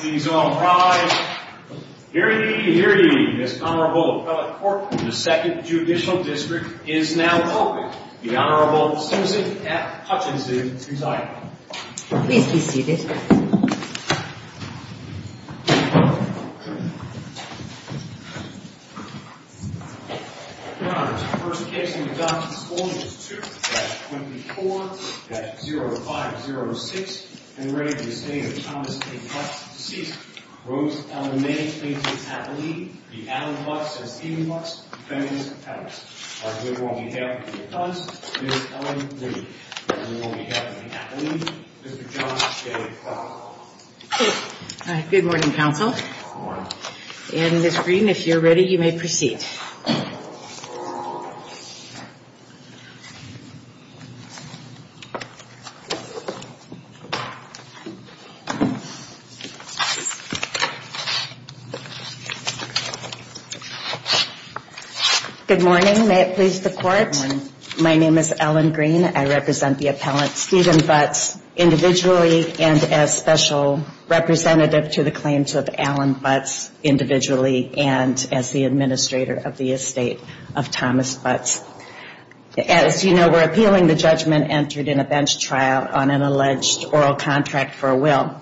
Please all rise. Hear ye, hear ye, this Honorable Appellate Court of the 2nd Judicial District is now open. The Honorable Susan F. Hutchinson, retired. Please be seated. Your Honors, the first case in the Johnson School is 2-24-0506 In re Estate of Thomas A. Butts, deceased. Rose Ellen May, plaintiff's appellee. The Adam Butts of Stephen Butts, defendant's appellate. On behalf of the Butts, Ms. Ellen May. On behalf of the appellee, Mr. John J. Butler. Good morning, Counsel. Good morning. And Ms. Green, if you're ready, you may proceed. Good morning. May it please the Court. Good morning. My name is Ellen Green. I represent the appellate, Stephen Butts, individually. And as special representative to the claims of Alan Butts, individually. And as the administrator of the Estate of Thomas Butts. As you know, we're appealing the judgment entered in a bench trial on an alleged oral contract for a will.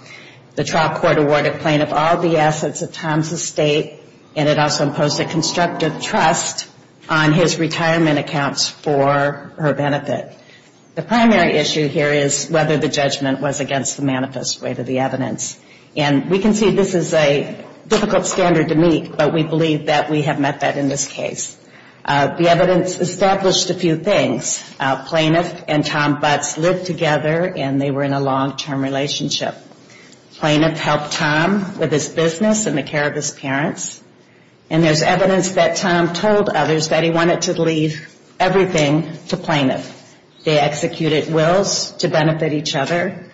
The trial court awarded plaintiff all the assets of Thomas' estate. And it also imposed a constructive trust on his retirement accounts for her benefit. The primary issue here is whether the judgment was against the manifest way to the evidence. And we can see this is a difficult standard to meet. But we believe that we have met that in this case. The evidence established a few things. Plaintiff and Tom Butts lived together and they were in a long-term relationship. Plaintiff helped Tom with his business and the care of his parents. And there's evidence that Tom told others that he wanted to leave everything to plaintiff. They executed wills to benefit each other.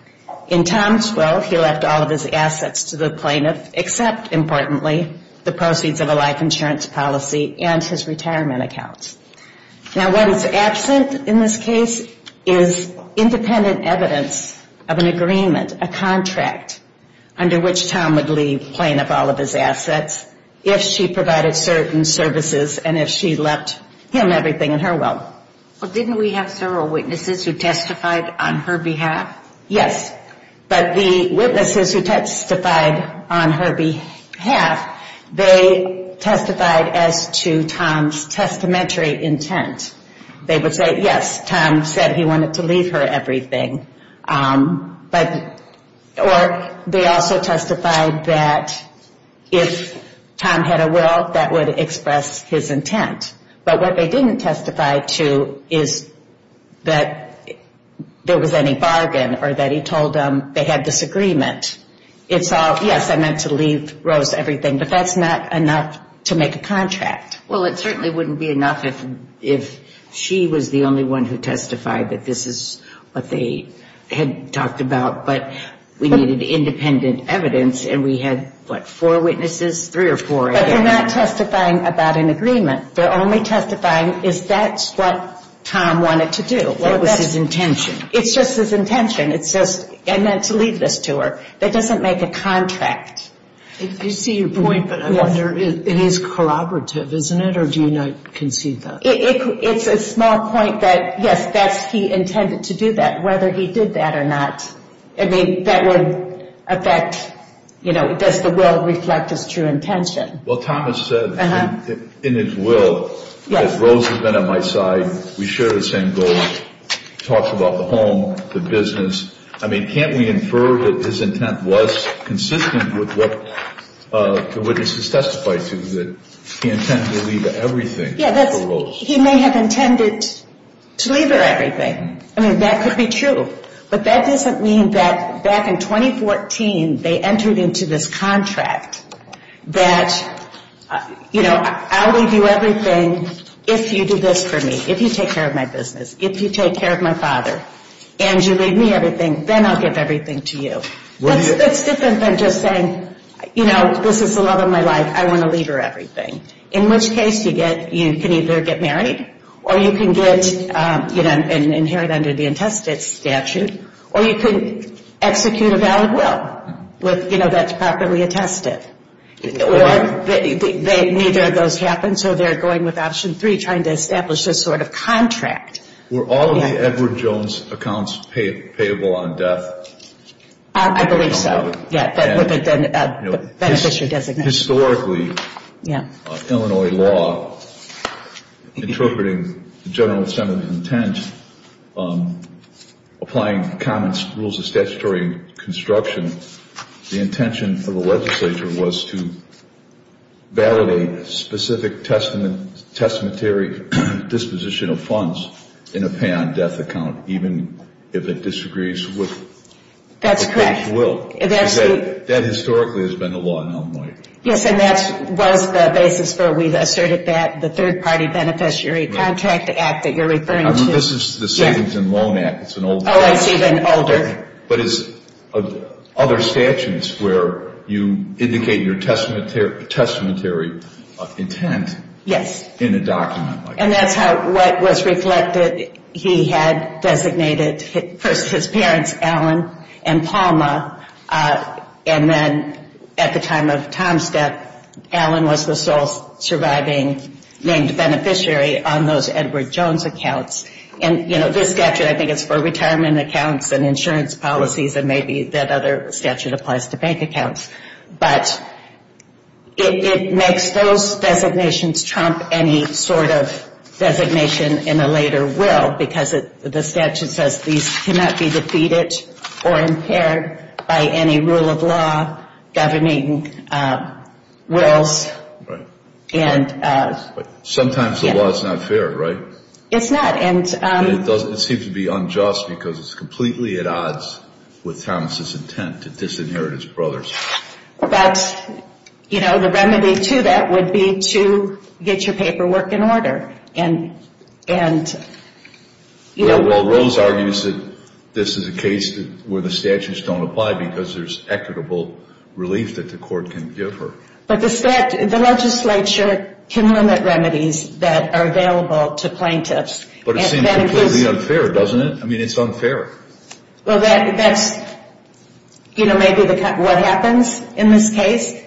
In Tom's will, he left all of his assets to the plaintiff. Except, importantly, the proceeds of a life insurance policy and his retirement accounts. Now, what is absent in this case is independent evidence of an agreement, a contract, under which Tom would leave plaintiff all of his assets if she provided certain services and if she left him everything in her will. Well, didn't we have several witnesses who testified on her behalf? Yes. But the witnesses who testified on her behalf, they testified as to Tom's testamentary intent. They would say, yes, Tom said he wanted to leave her everything. Or they also testified that if Tom had a will, that would express his intent. But what they didn't testify to is that there was any bargain or that he told them they had disagreement. It's all, yes, I meant to leave Rose everything, but that's not enough to make a contract. Well, it certainly wouldn't be enough if she was the only one who testified that this is what they had talked about. But we needed independent evidence, and we had, what, four witnesses? Three or four, I guess. But they're not testifying about an agreement. They're only testifying is that's what Tom wanted to do. What was his intention? It's just his intention. It's just, I meant to leave this to her. That doesn't make a contract. I see your point, but I wonder, it is corroborative, isn't it, or do you not concede that? It's a small point that, yes, that's he intended to do that, whether he did that or not. I mean, that would affect, you know, does the will reflect his true intention? Well, Thomas said in his will that Rose had been on my side. We share the same goals. He talks about the home, the business. I mean, can't we infer that his intent was consistent with what the witnesses testified to, that he intended to leave everything to Rose? Yes, he may have intended to leave her everything. I mean, that could be true. But that doesn't mean that back in 2014 they entered into this contract that, you know, I'll leave you everything if you do this for me, if you take care of my business, if you take care of my father, and you leave me everything, then I'll give everything to you. That's different than just saying, you know, this is the love of my life. I want to leave her everything. In which case you can either get married or you can get, you know, and inherit under the intestate statute, or you can execute a valid will, you know, that's properly attested. Or neither of those happen, so they're going with option three, trying to establish this sort of contract. Were all of the Edward Jones accounts payable on death? I believe so. Beneficiary designation. Historically, Illinois law, interpreting the General Assembly's intent, applying common rules of statutory construction, the intention of the legislature was to validate specific testamentary disposition of funds in a pay on death account, even if it disagrees with the will. That's correct. Yes, and that was the basis for, we've asserted that, the third-party beneficiary contract act that you're referring to. This is the Savings and Loan Act. Oh, it's even older. But it's other statutes where you indicate your testamentary intent in a document. And that's what was reflected. He had designated first his parents, Alan and Palma, and then at the time of Tom's death, Alan was the sole surviving named beneficiary on those Edward Jones accounts. And, you know, this statute, I think, is for retirement accounts and insurance policies, and maybe that other statute applies to bank accounts. But it makes those designations trump any sort of designation in a later will, because the statute says these cannot be defeated or impaired by any rule of law governing wills. Right. Sometimes the law is not fair, right? It's not. It seems to be unjust because it's completely at odds with Thomas' intent to disinherit his brothers. But, you know, the remedy to that would be to get your paperwork in order. Well, Rose argues that this is a case where the statutes don't apply because there's equitable relief that the court can give her. But the legislature can limit remedies that are available to plaintiffs. But it seems completely unfair, doesn't it? I mean, it's unfair. Well, that's, you know, maybe what happens in this case.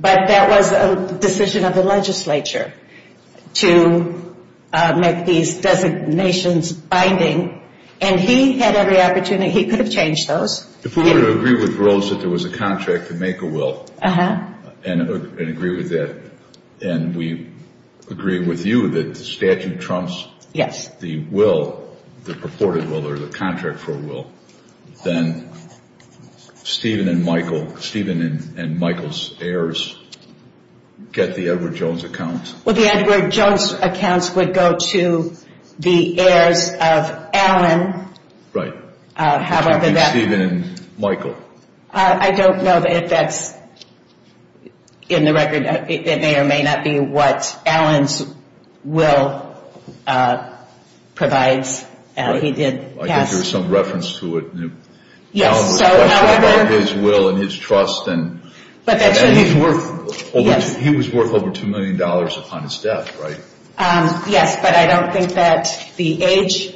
But that was a decision of the legislature to make these designations binding. And he had every opportunity. He could have changed those. If we were to agree with Rose that there was a contract to make a will and agree with that, and we agree with you that the statute trumps the will, the purported will or the contract for a will, then Stephen and Michael's heirs get the Edward Jones account. Well, the Edward Jones accounts would go to the heirs of Allen. Stephen and Michael. I don't know that that's in the record. It may or may not be what Allen's will provides. I think there's some reference to it. Allen was questioning about his will and his trust. He was worth over $2 million upon his death, right? Yes, but I don't think that the age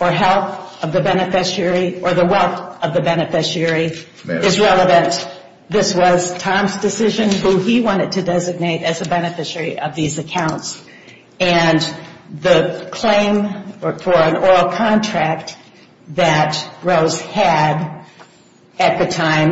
or health of the beneficiary or the wealth of the beneficiary is relevant. This was Tom's decision who he wanted to designate as a beneficiary of these accounts. And the claim for an oral contract that Rose had at the time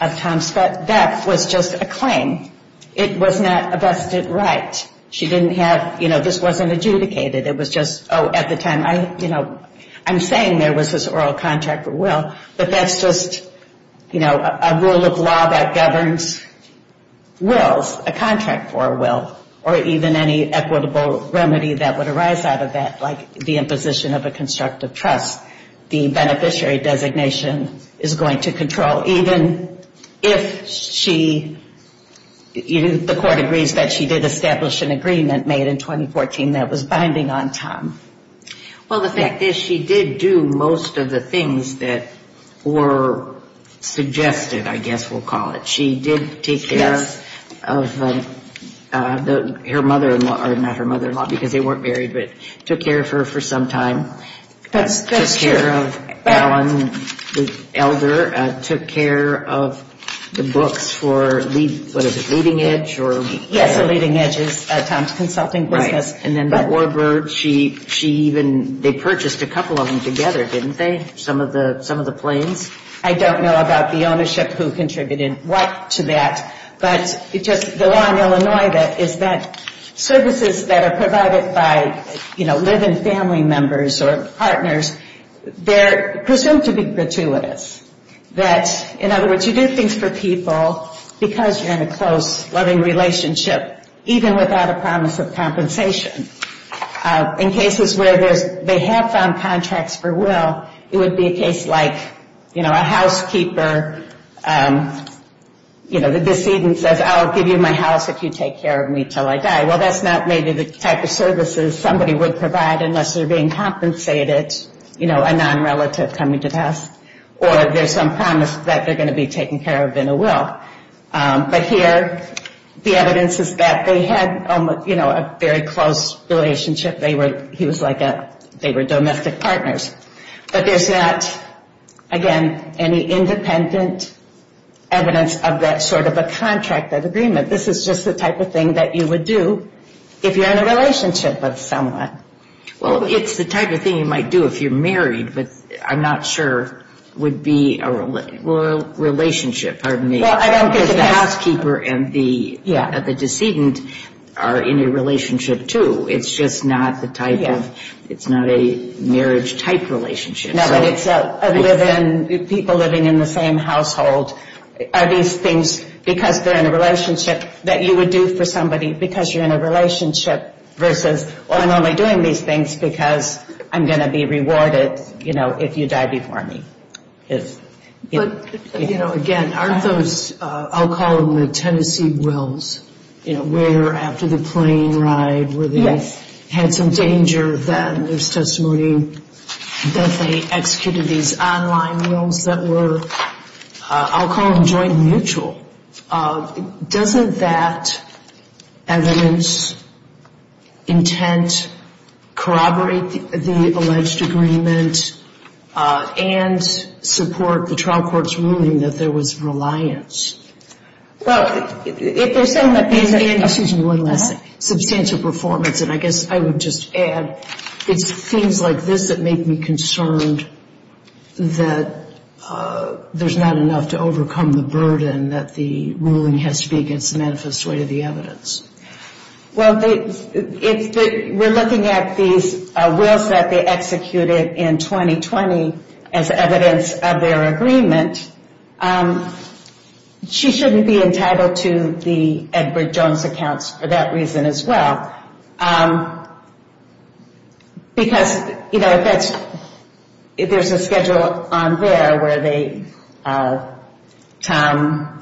of Tom's death was just a claim. It was not a vested right. She didn't have, you know, this wasn't adjudicated. It was just, oh, at the time, you know, I'm saying there was this oral contract for a will, but that's just, you know, a rule of law that governs wills, a contract for a will, or even any equitable remedy that would arise out of that, like the imposition of a constructive trust. The beneficiary designation is going to control even if she, the court agrees that she did establish an agreement made in 2014 that was binding on Tom. Well, the fact is she did do most of the things that were suggested, I guess we'll call it. She did take care of her mother-in-law, or not her mother-in-law because they weren't married, but took care of her for some time. That's true. Took care of Alan, the elder, took care of the books for, what is it, Leading Edge? Yes, Leading Edge is Tom's consulting business. Right. And then Warbird, she even, they purchased a couple of them together, didn't they, some of the planes? I don't know about the ownership who contributed what to that, but it just, the law in Illinois is that services that are provided by, you know, live-in family members or partners, they're presumed to be gratuitous. That, in other words, you do things for people because you're in a close, loving relationship, even without a promise of compensation. In cases where they have found contracts for will, it would be a case like, you know, a housekeeper, you know, the decedent says, I'll give you my house if you take care of me until I die. Well, that's not maybe the type of services somebody would provide unless they're being compensated, you know, a non-relative coming to the house, or there's some promise that they're going to be taken care of in a will. But here, the evidence is that they had, you know, a very close relationship. They were, he was like a, they were domestic partners. But there's not, again, any independent evidence of that sort of a contract, that agreement. This is just the type of thing that you would do if you're in a relationship with someone. Well, it's the type of thing you might do if you're married, but I'm not sure would be a relationship. Pardon me. Well, I don't think it is. Because the housekeeper and the decedent are in a relationship, too. It's just not the type of, it's not a marriage-type relationship. No, but it's other than people living in the same household, are these things, because they're in a relationship, that you would do for somebody because you're in a relationship versus, well, I'm only doing these things because I'm going to be rewarded, you know, if you die before me. But, you know, again, aren't those, I'll call them the Tennessee wills, you know, where after the plane ride where they had some danger, then there's testimony that they executed these online wills that were, I'll call them joint and mutual. Doesn't that evidence intent corroborate the alleged agreement and support the trial court's ruling that there was reliance? Well, if they're saying that there's a substantial performance, and I guess I would just add it's things like this that make me concerned, that there's not enough to overcome the burden that the ruling has to be against the manifest way of the evidence. Well, if we're looking at these wills that they executed in 2020 as evidence of their agreement, she shouldn't be entitled to the Edward Jones accounts for that reason as well. Because, you know, if there's a schedule on there where they, Tom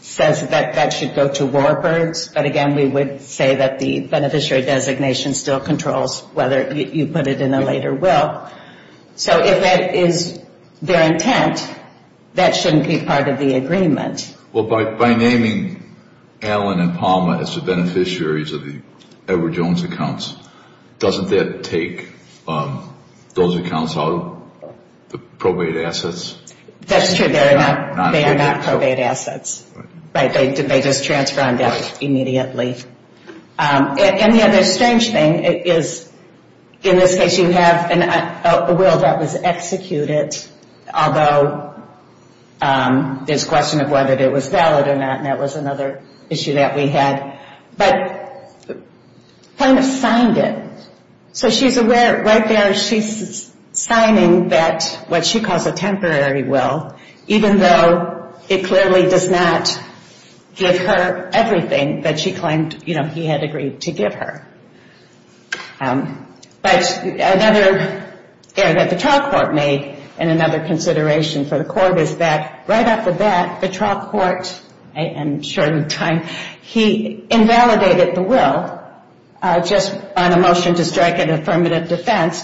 says that that should go to Warburg's, but again, we would say that the beneficiary designation still controls whether you put it in a later will. So if that is their intent, that shouldn't be part of the agreement. Well, by naming Allen and Palmer as the beneficiaries of the Edward Jones accounts, doesn't that take those accounts out of the probate assets? That's true. They are not probate assets. Right. They just transfer on death immediately. And the other strange thing is in this case you have a will that was executed, although there's a question of whether it was valid or not, and that was another issue that we had, but kind of signed it. So she's aware right there she's signing that what she calls a temporary will, even though it clearly does not give her everything that she claimed he had agreed to give her. But another error that the trial court made and another consideration for the court is that right after that, the trial court in a short amount of time, he invalidated the will just on a motion to strike an affirmative defense,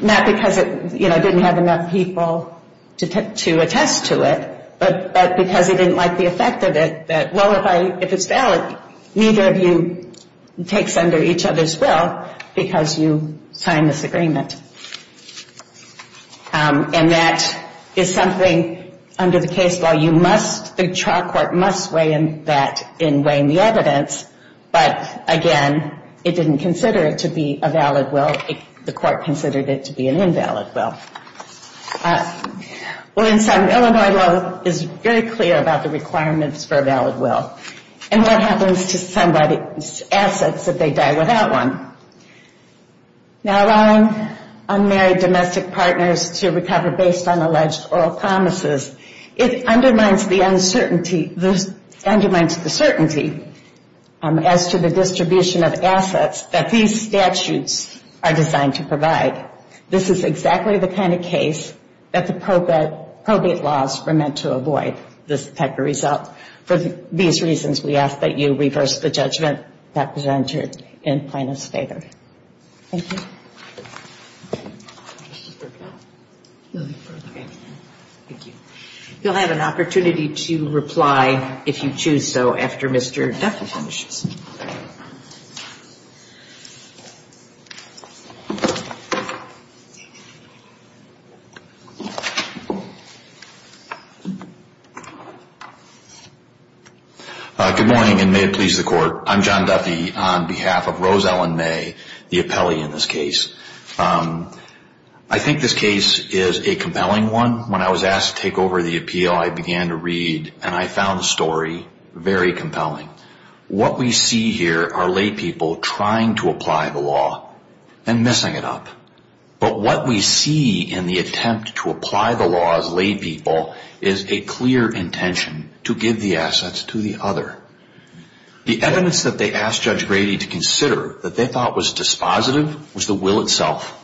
not because it didn't have enough people to attest to it, but because he didn't like the effect of it. That, well, if it's valid, neither of you takes under each other's will because you signed this agreement. And that is something under the case law you must, the trial court must weigh in that in weighing the evidence, but again, it didn't consider it to be a valid will. The court considered it to be an invalid will. Illinois law is very clear about the requirements for a valid will and what happens to somebody's assets if they die without one. Now allowing unmarried domestic partners to recover based on alleged oral promises, it undermines the uncertainty as to the distribution of assets that these statutes are designed to provide. This is exactly the kind of case that the probate laws were meant to avoid, this type of result. For these reasons, we ask that you reverse the judgment that was entered in plaintiff's favor. Thank you. Thank you. You'll have an opportunity to reply if you choose so after Mr. Duffy finishes. Good morning and may it please the court. I'm John Duffy on behalf of Rose Ellen May, the appellee in this case. I think this case is a compelling one. When I was asked to take over the appeal, I began to read and I found the story very compelling. What we see here are laypeople trying to apply the law and missing it up. But what we see in the attempt to apply the law as laypeople is a clear intention to give the assets to the other. The evidence that they asked Judge Grady to consider that they thought was dispositive was the will itself.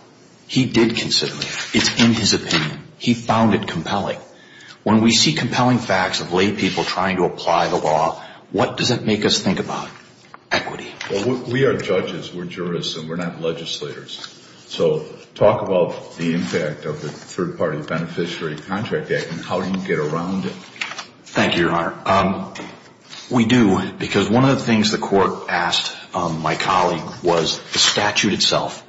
He did consider it. It's in his opinion. He found it compelling. When we see compelling facts of laypeople trying to apply the law, what does it make us think about? Equity. Well, we are judges, we're jurists, and we're not legislators. So talk about the impact of the Third Party Beneficiary Contract Act and how you get around it. Thank you, Your Honor. We do, because one of the things the court asked my colleague was the statute itself.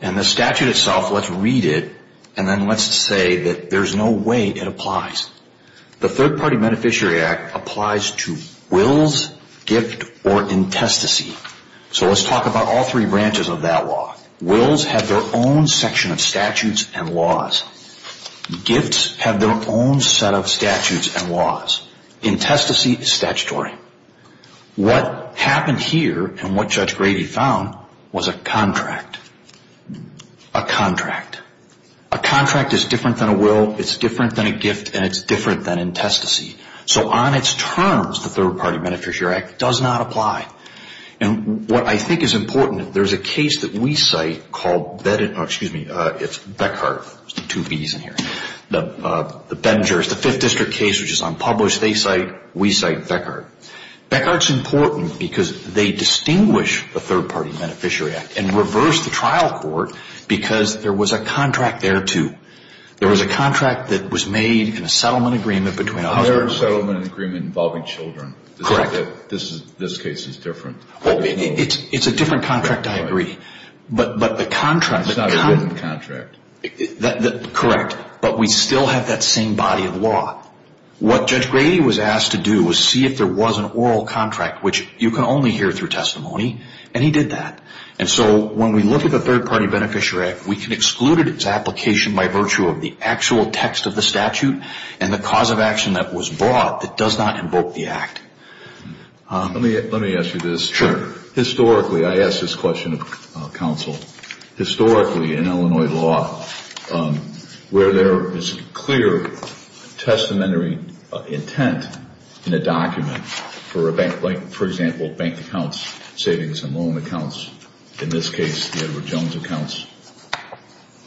And the statute itself, let's read it and then let's say that there's no way it applies. The Third Party Beneficiary Act applies to wills, gift, or intestacy. So let's talk about all three branches of that law. Wills have their own section of statutes and laws. Gifts have their own set of statutes and laws. Intestacy is statutory. What happened here and what Judge Grady found was a contract. A contract. A contract is different than a will, it's different than a gift, and it's different than intestacy. So on its terms, the Third Party Beneficiary Act does not apply. And what I think is important, there's a case that we cite called, excuse me, it's Beckhardt. There's two V's in here. The Ben and Jerris, the Fifth District case, which is unpublished, they cite, we cite Beckhardt. Beckhardt's important because they distinguish the Third Party Beneficiary Act and reverse the trial court because there was a contract there, too. There was a contract that was made in a settlement agreement between a husband and a wife. Involving children. This case is different. It's a different contract, I agree. But the contract. It's not a written contract. Correct. But we still have that same body of law. What Judge Grady was asked to do was see if there was an oral contract, which you can only hear through testimony, and he did that. And so when we look at the Third Party Beneficiary Act, we can exclude its application by virtue of the actual text of the statute and the cause of action that was brought that does not invoke the act. Let me ask you this. Sure. Historically, I ask this question of counsel, historically in Illinois law, where there is clear testamentary intent in a document for a bank, like, for example, bank accounts, savings and loan accounts, in this case the Edward Jones accounts,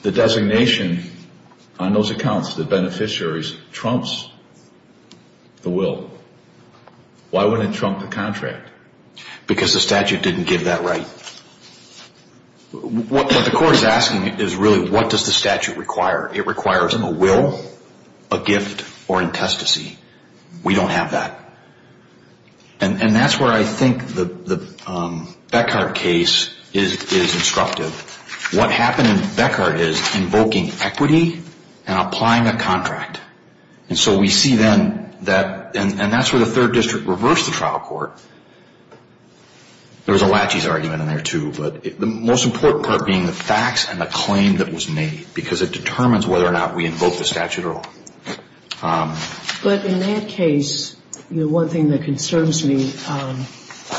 the designation on those accounts, the beneficiaries, trumps the will. Why wouldn't it trump the contract? Because the statute didn't give that right. What the court is asking is really what does the statute require? It requires a will, a gift, or in testacy. We don't have that. And that's where I think the Beckhardt case is instructive. What happened in Beckhardt is invoking equity and applying a contract. And so we see then that, and that's where the Third District reversed the trial court. There was a latches argument in there, too, but the most important part being the facts and the claim that was made, because it determines whether or not we invoke the statute at all. But in that case, you know, one thing that concerns me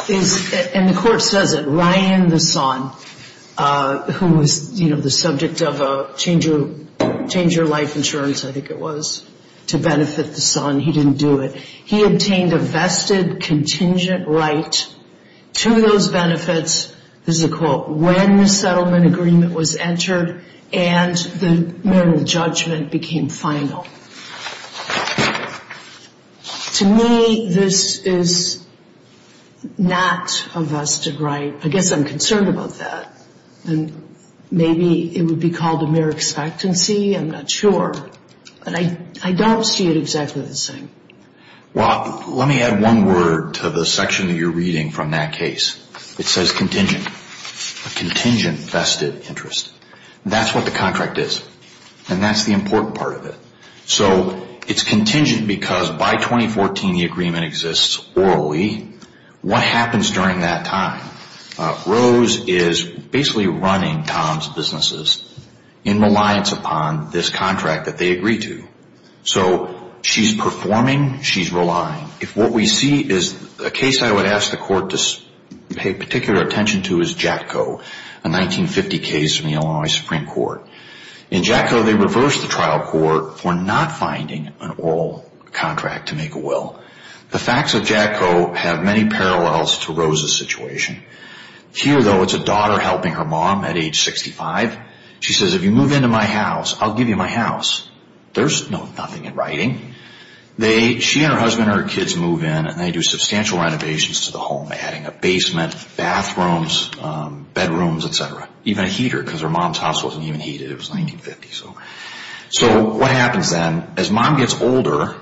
is, and the court says it, Ryan the son, who was, you know, the subject of a change-of-life insurance, I think it was, to benefit the son. He didn't do it. He obtained a vested contingent right to those benefits, this is a quote, when the settlement agreement was entered and the minimum judgment became final. To me, this is not a vested right. I guess I'm concerned about that. And maybe it would be called a mere expectancy. I'm not sure. But I don't see it exactly the same. Well, let me add one word to the section that you're reading from that case. It says contingent. A contingent vested interest. That's what the contract is. And that's the important part of it. So it's contingent because by 2014 the agreement exists orally. What happens during that time? Rose is basically running Tom's businesses in reliance upon this contract that they agree to. So she's performing, she's relying. If what we see is a case I would ask the court to pay particular attention to is JATCO, a 1950 case from the Illinois Supreme Court. In JATCO they reversed the trial court for not finding an oral contract to make a will. The facts of JATCO have many parallels to Rose's situation. Here, though, it's a daughter helping her mom at age 65. She says, if you move into my house, I'll give you my house. There's nothing in writing. She and her husband and her kids move in and they do substantial renovations to the home, adding a basement, bathrooms, bedrooms, etc. Even a heater because her mom's house wasn't even heated. It was 1950. So what happens then? As mom gets older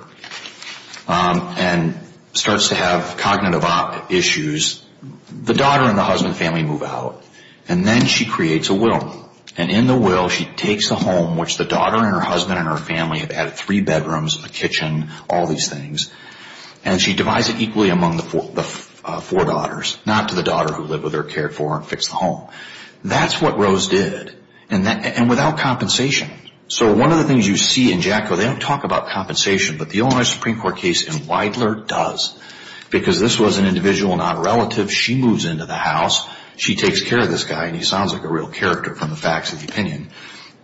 and starts to have cognitive issues, the daughter and the husband and family move out. And then she creates a will. And in the will she takes the home, which the daughter and her husband and her family have added, three bedrooms, a kitchen, all these things, and she divides it equally among the four daughters. Not to the daughter who lived with her, cared for her, and fixed the home. That's what Rose did. And without compensation. So one of the things you see in JATCO, they don't talk about compensation, but the Illinois Supreme Court case in Weidler does. Because this was an individual, not a relative, she moves into the house, she takes care of this guy, and he sounds like a real character from the facts of the opinion.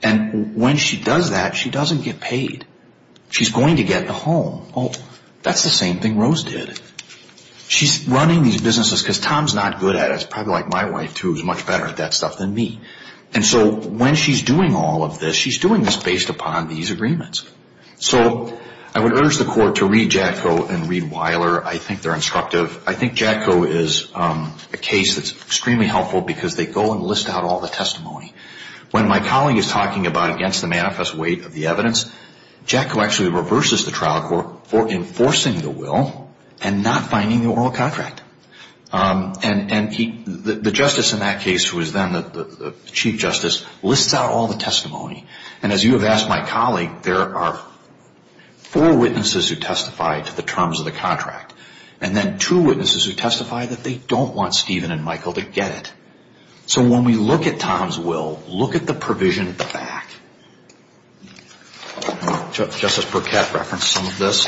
And when she does that, she doesn't get paid. She's going to get the home. That's the same thing Rose did. She's running these businesses because Tom's not good at it. It's probably like my wife, too, who's much better at that stuff than me. And so when she's doing all of this, she's doing this based upon these agreements. So I would urge the court to read JATCO and read Weidler. I think they're instructive. I think JATCO is a case that's extremely helpful because they go and list out all the testimony. When my colleague is talking about against the manifest weight of the evidence, JATCO actually reverses the trial court for enforcing the will and not finding the oral contract. And the justice in that case, who is then the chief justice, lists out all the testimony. And as you have asked my colleague, there are four witnesses who testify to the terms of the contract. And then two witnesses who testify that they don't want Stephen and Michael to get it. So when we look at Tom's will, look at the provision at the back. Justice Burkett referenced some of this.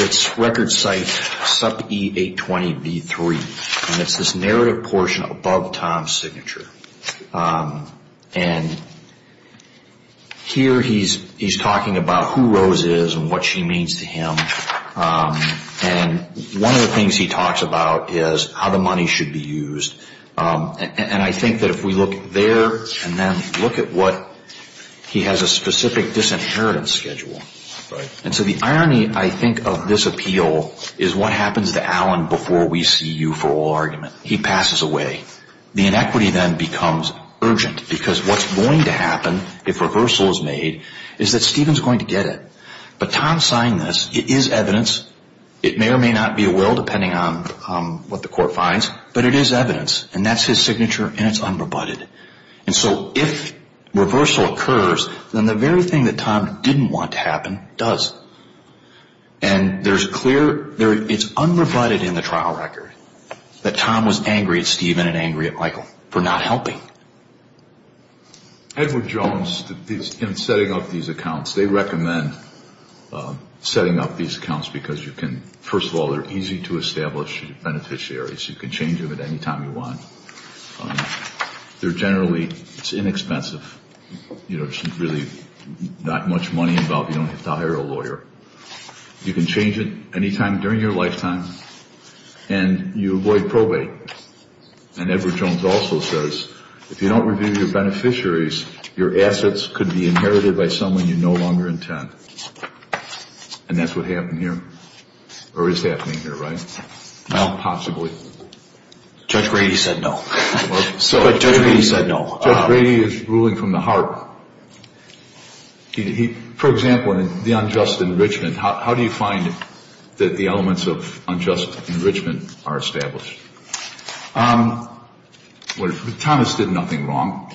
It's record site sub E820B3. And it's this narrative portion above Tom's signature. And here he's talking about who Rose is and what she means to him. And one of the things he talks about is how the money should be used. And I think that if we look there and then look at what he has a specific disinheritance schedule. And so the irony, I think, of this appeal is what happens to Alan before we see you for oral argument. He passes away. The inequity then becomes urgent because what's going to happen if reversal is made is that Stephen's going to get it. But Tom signed this. It is evidence. It may or may not be a will depending on what the court finds. But it is evidence. And that's his signature and it's unrebutted. And so if reversal occurs, then the very thing that Tom didn't want to happen does. And there's clear, it's unrebutted in the trial record that Tom was angry at Stephen and angry at Michael for not helping. Edward Jones, in setting up these accounts, they recommend setting up these accounts because you can, first of all, they're easy to establish beneficiaries. You can change them at any time you want. They're generally inexpensive. There's really not much money involved. You don't have to hire a lawyer. You can change it any time during your lifetime. And you avoid probate. And Edward Jones also says if you don't review your beneficiaries, your assets could be inherited by someone you no longer intend. And that's what happened here or is happening here, right? Well, possibly. Judge Brady said no. Judge Brady said no. Judge Brady is ruling from the heart. For example, the unjust enrichment, how do you find that the elements of unjust enrichment are established? Thomas did nothing wrong.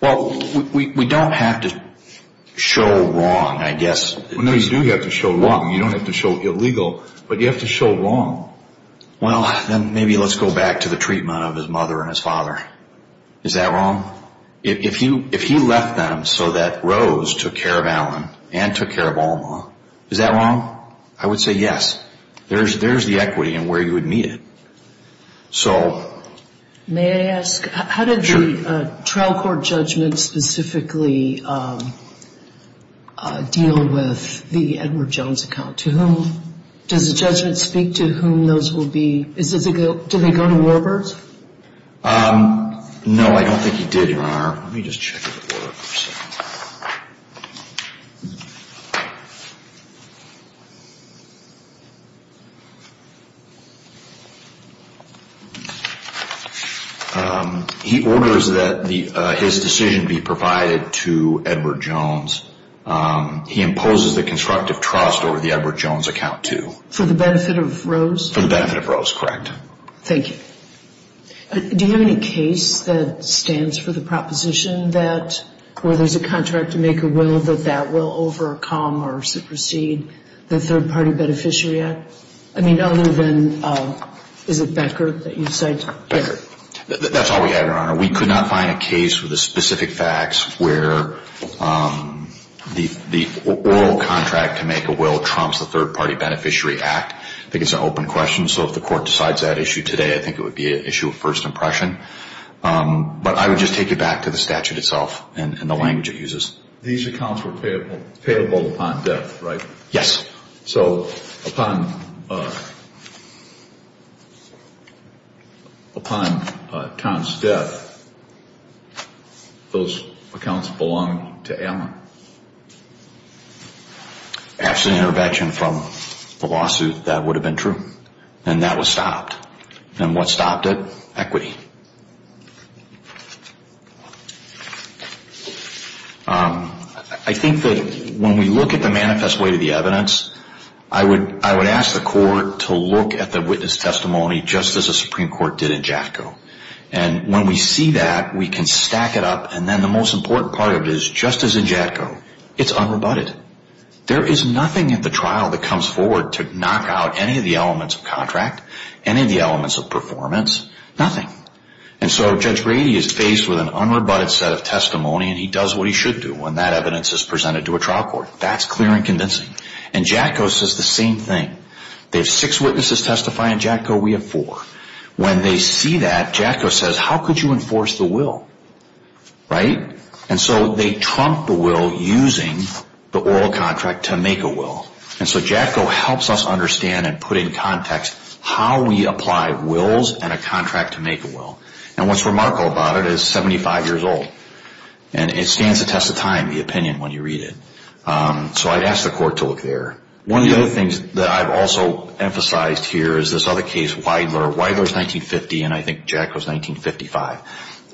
Well, we don't have to show wrong, I guess. No, you do have to show wrong. You don't have to show illegal, but you have to show wrong. Well, then maybe let's go back to the treatment of his mother and his father. Is that wrong? If he left them so that Rose took care of Alan and took care of Alma, is that wrong? I would say yes. There's the equity and where you would meet it. May I ask, how did the trial court judgment specifically deal with the Edward Jones account? Does the judgment speak to whom those will be? Did they go to Warburg's? No, I don't think he did, Your Honor. Let me just check if it works. He orders that his decision be provided to Edward Jones. He imposes the constructive trust over the Edward Jones account, too. For the benefit of Rose? For the benefit of Rose, correct. Thank you. Do you have any case that stands for the proposition that where there's a contract to make a will, that that will overcome or supersede the Third Party Beneficiary Act? I mean, other than, is it Becker that you cite? Becker. That's all we have, Your Honor. We could not find a case with the specific facts where the oral contract to make a will trumps the Third Party Beneficiary Act. I think it's an open question. So if the court decides that issue today, I think it would be an issue of first impression. But I would just take it back to the statute itself and the language it uses. These accounts were payable upon death, right? Yes. So upon Tom's death, those accounts belong to Emma? After the intervention from the lawsuit, that would have been true. And that was stopped. And what stopped it? I think that when we look at the manifest way to the evidence, I would ask the court to look at the witness testimony just as the Supreme Court did in JATCO. And when we see that, we can stack it up. And then the most important part of it is, just as in JATCO, it's unrebutted. There is nothing in the trial that comes forward to knock out any of the elements of contract, any of the elements of performance, nothing. And so Judge Brady is faced with an unrebutted set of testimony, and he does what he should do when that evidence is presented to a trial court. That's clear and convincing. And JATCO says the same thing. They have six witnesses testify. In JATCO, we have four. When they see that, JATCO says, how could you enforce the will? Right? And so they trump the will using the oral contract to make a will. And so JATCO helps us understand and put in context how we apply wills and a contract to make a will. And what's remarkable about it is it's 75 years old. And it stands the test of time, the opinion, when you read it. So I'd ask the court to look there. One of the other things that I've also emphasized here is this other case, Weidler. Weidler is 1950, and I think JATCO is 1955.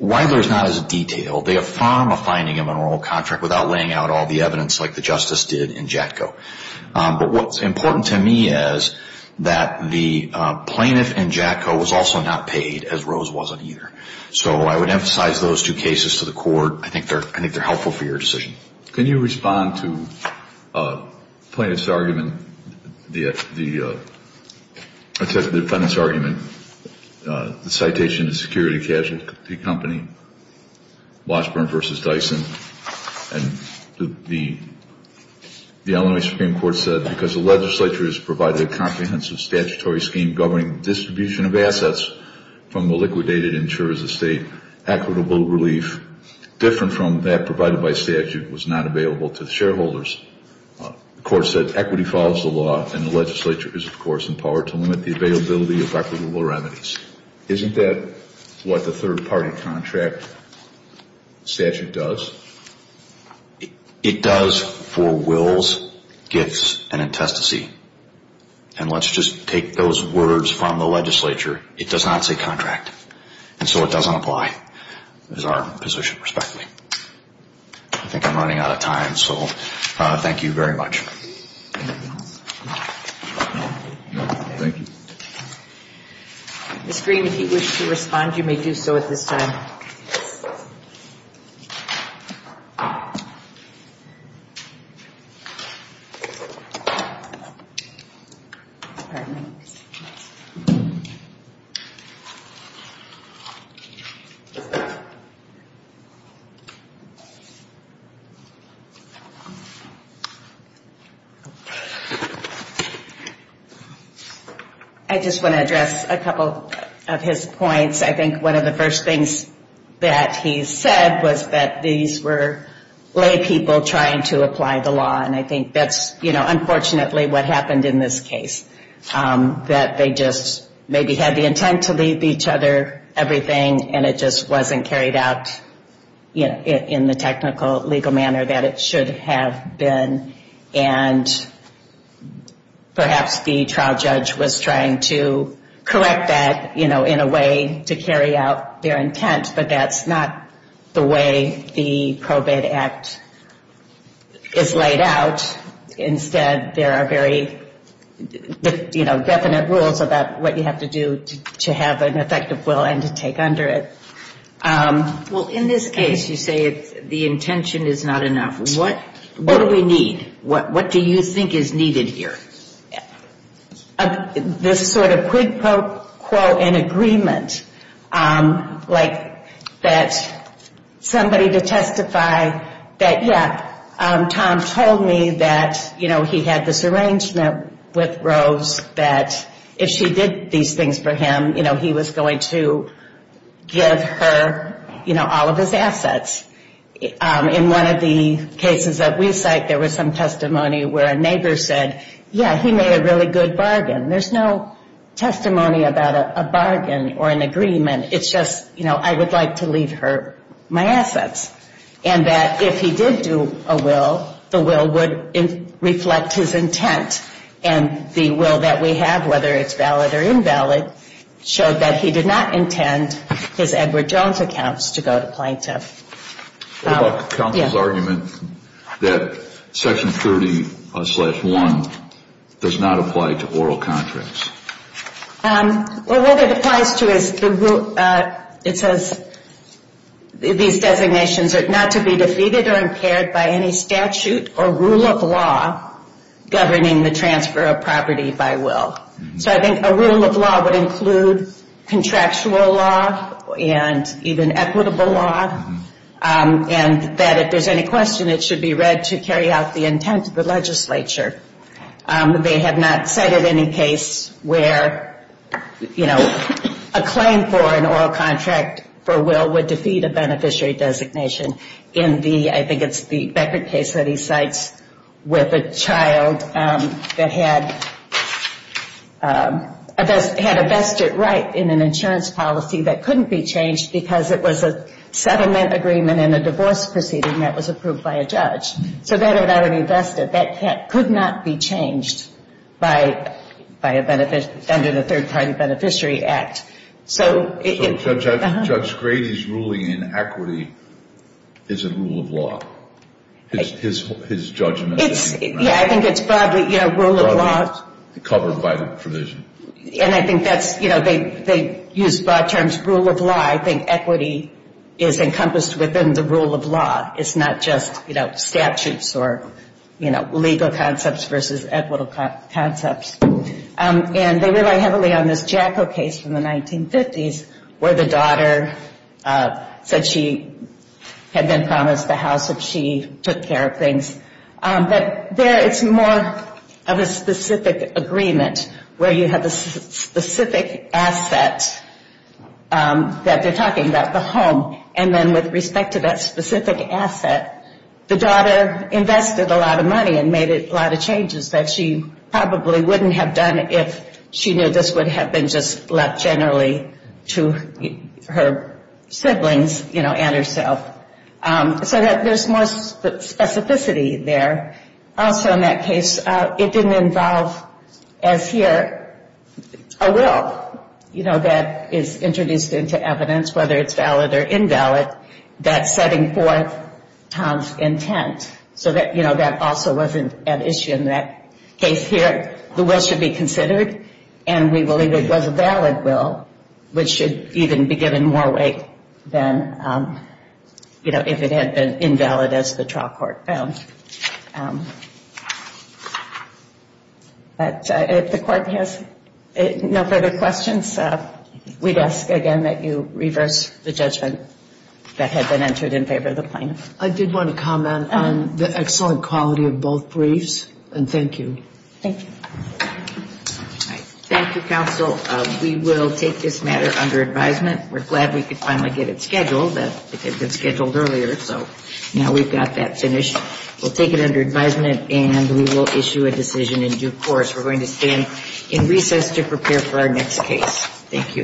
Weidler is not as detailed. They affirm a finding of an oral contract without laying out all the evidence like the justice did in JATCO. But what's important to me is that the plaintiff in JATCO was also not paid, as Rose wasn't either. So I would emphasize those two cases to the court. I think they're helpful for your decision. Can you respond to the plaintiff's argument, the defendant's argument, the citation to security casualty company, Washburn v. Dyson, and the Illinois Supreme Court said, because the legislature has provided a comprehensive statutory scheme governing distribution of assets from the liquidated and ensures the state equitable relief, different from that provided by statute was not available to the shareholders. The court said equity follows the law, and the legislature is, of course, empowered to limit the availability of equitable remedies. Isn't that what the third-party contract statute does? It does for wills, gifts, and intestacy. And let's just take those words from the legislature. It does not say contract. And so it doesn't apply as our position, respectively. I think I'm running out of time, so thank you very much. Thank you. Ms. Green, if you wish to respond, you may do so at this time. I just want to address a couple of his points. I think one of the first things that he said was that these were laypeople trying to apply the law, and I think that's, you know, unfortunately what happened in this case, that they just maybe had the intent to leave each other everything, and it just wasn't carried out in the technical legal manner that it should have been. And perhaps the trial judge was trying to correct that, you know, in a way to carry out their intent, but that's not the way the probate act is laid out. Instead, there are very, you know, definite rules about what you have to do to have an effective will and to take under it. Well, in this case, you say the intention is not enough. What do we need? What do you think is needed here? This sort of quid pro quo in agreement, like that somebody to testify that, yeah, Tom told me that, you know, he had this arrangement with Rose that if she did these things for him, you know, he was going to give her, you know, all of his assets. In one of the cases that we cite, there was some testimony where a neighbor said, yeah, he made a really good bargain. There's no testimony about a bargain or an agreement. It's just, you know, I would like to leave her my assets. And that if he did do a will, the will would reflect his intent, and the will that we have, whether it's valid or invalid, showed that he did not intend his Edward Jones accounts to go to plaintiff. What about counsel's argument that Section 30-1 does not apply to oral contracts? Well, what it applies to is the rule. It says these designations are not to be defeated or impaired by any statute or rule of law governing the transfer of property by will. So I think a rule of law would include contractual law and even equitable law, and that if there's any question, it should be read to carry out the intent of the legislature. They have not cited any case where, you know, a claim for an oral contract for will would defeat a beneficiary designation in the, I think it's the Beckert case that he cites, with a child that had a vested right in an insurance policy that couldn't be changed because it was a settlement agreement in a divorce proceeding that was approved by a judge. So that had not been vested. That could not be changed by a beneficiary under the Third Party Beneficiary Act. So Judge Grady's ruling in equity is a rule of law, his judgment? Yeah, I think it's broadly, you know, rule of law. Broadly covered by the provision. And I think that's, you know, they use broad terms, rule of law. So I think equity is encompassed within the rule of law. It's not just, you know, statutes or, you know, legal concepts versus equitable concepts. And they rely heavily on this Jacko case from the 1950s, where the daughter said she had been promised the house if she took care of things. But there it's more of a specific agreement, where you have a specific asset that there's an agreement and they're talking about the home. And then with respect to that specific asset, the daughter invested a lot of money and made a lot of changes that she probably wouldn't have done if she knew this would have been just left generally to her siblings, you know, and herself. So there's more specificity there. Also in that case, it didn't involve, as here, a will, you know, that is introduced into evidence. Whether it's valid or invalid, that's setting forth Tom's intent. So that, you know, that also wasn't an issue in that case here. The will should be considered. And we believe it was a valid will, which should even be given more weight than, you know, if it had been invalid as the trial court found. But if the court has no further questions, we'd ask again that you reverse the judgment that had been entered in favor of the plaintiff. I did want to comment on the excellent quality of both briefs. And thank you. Thank you. Thank you, counsel. We will take this matter under advisement. We're glad we could finally get it scheduled. It had been scheduled earlier, so now we've got that finished. We'll take it under advisement, and we will issue a decision in due course. We're going to stand in recess to prepare for our next case. Thank you.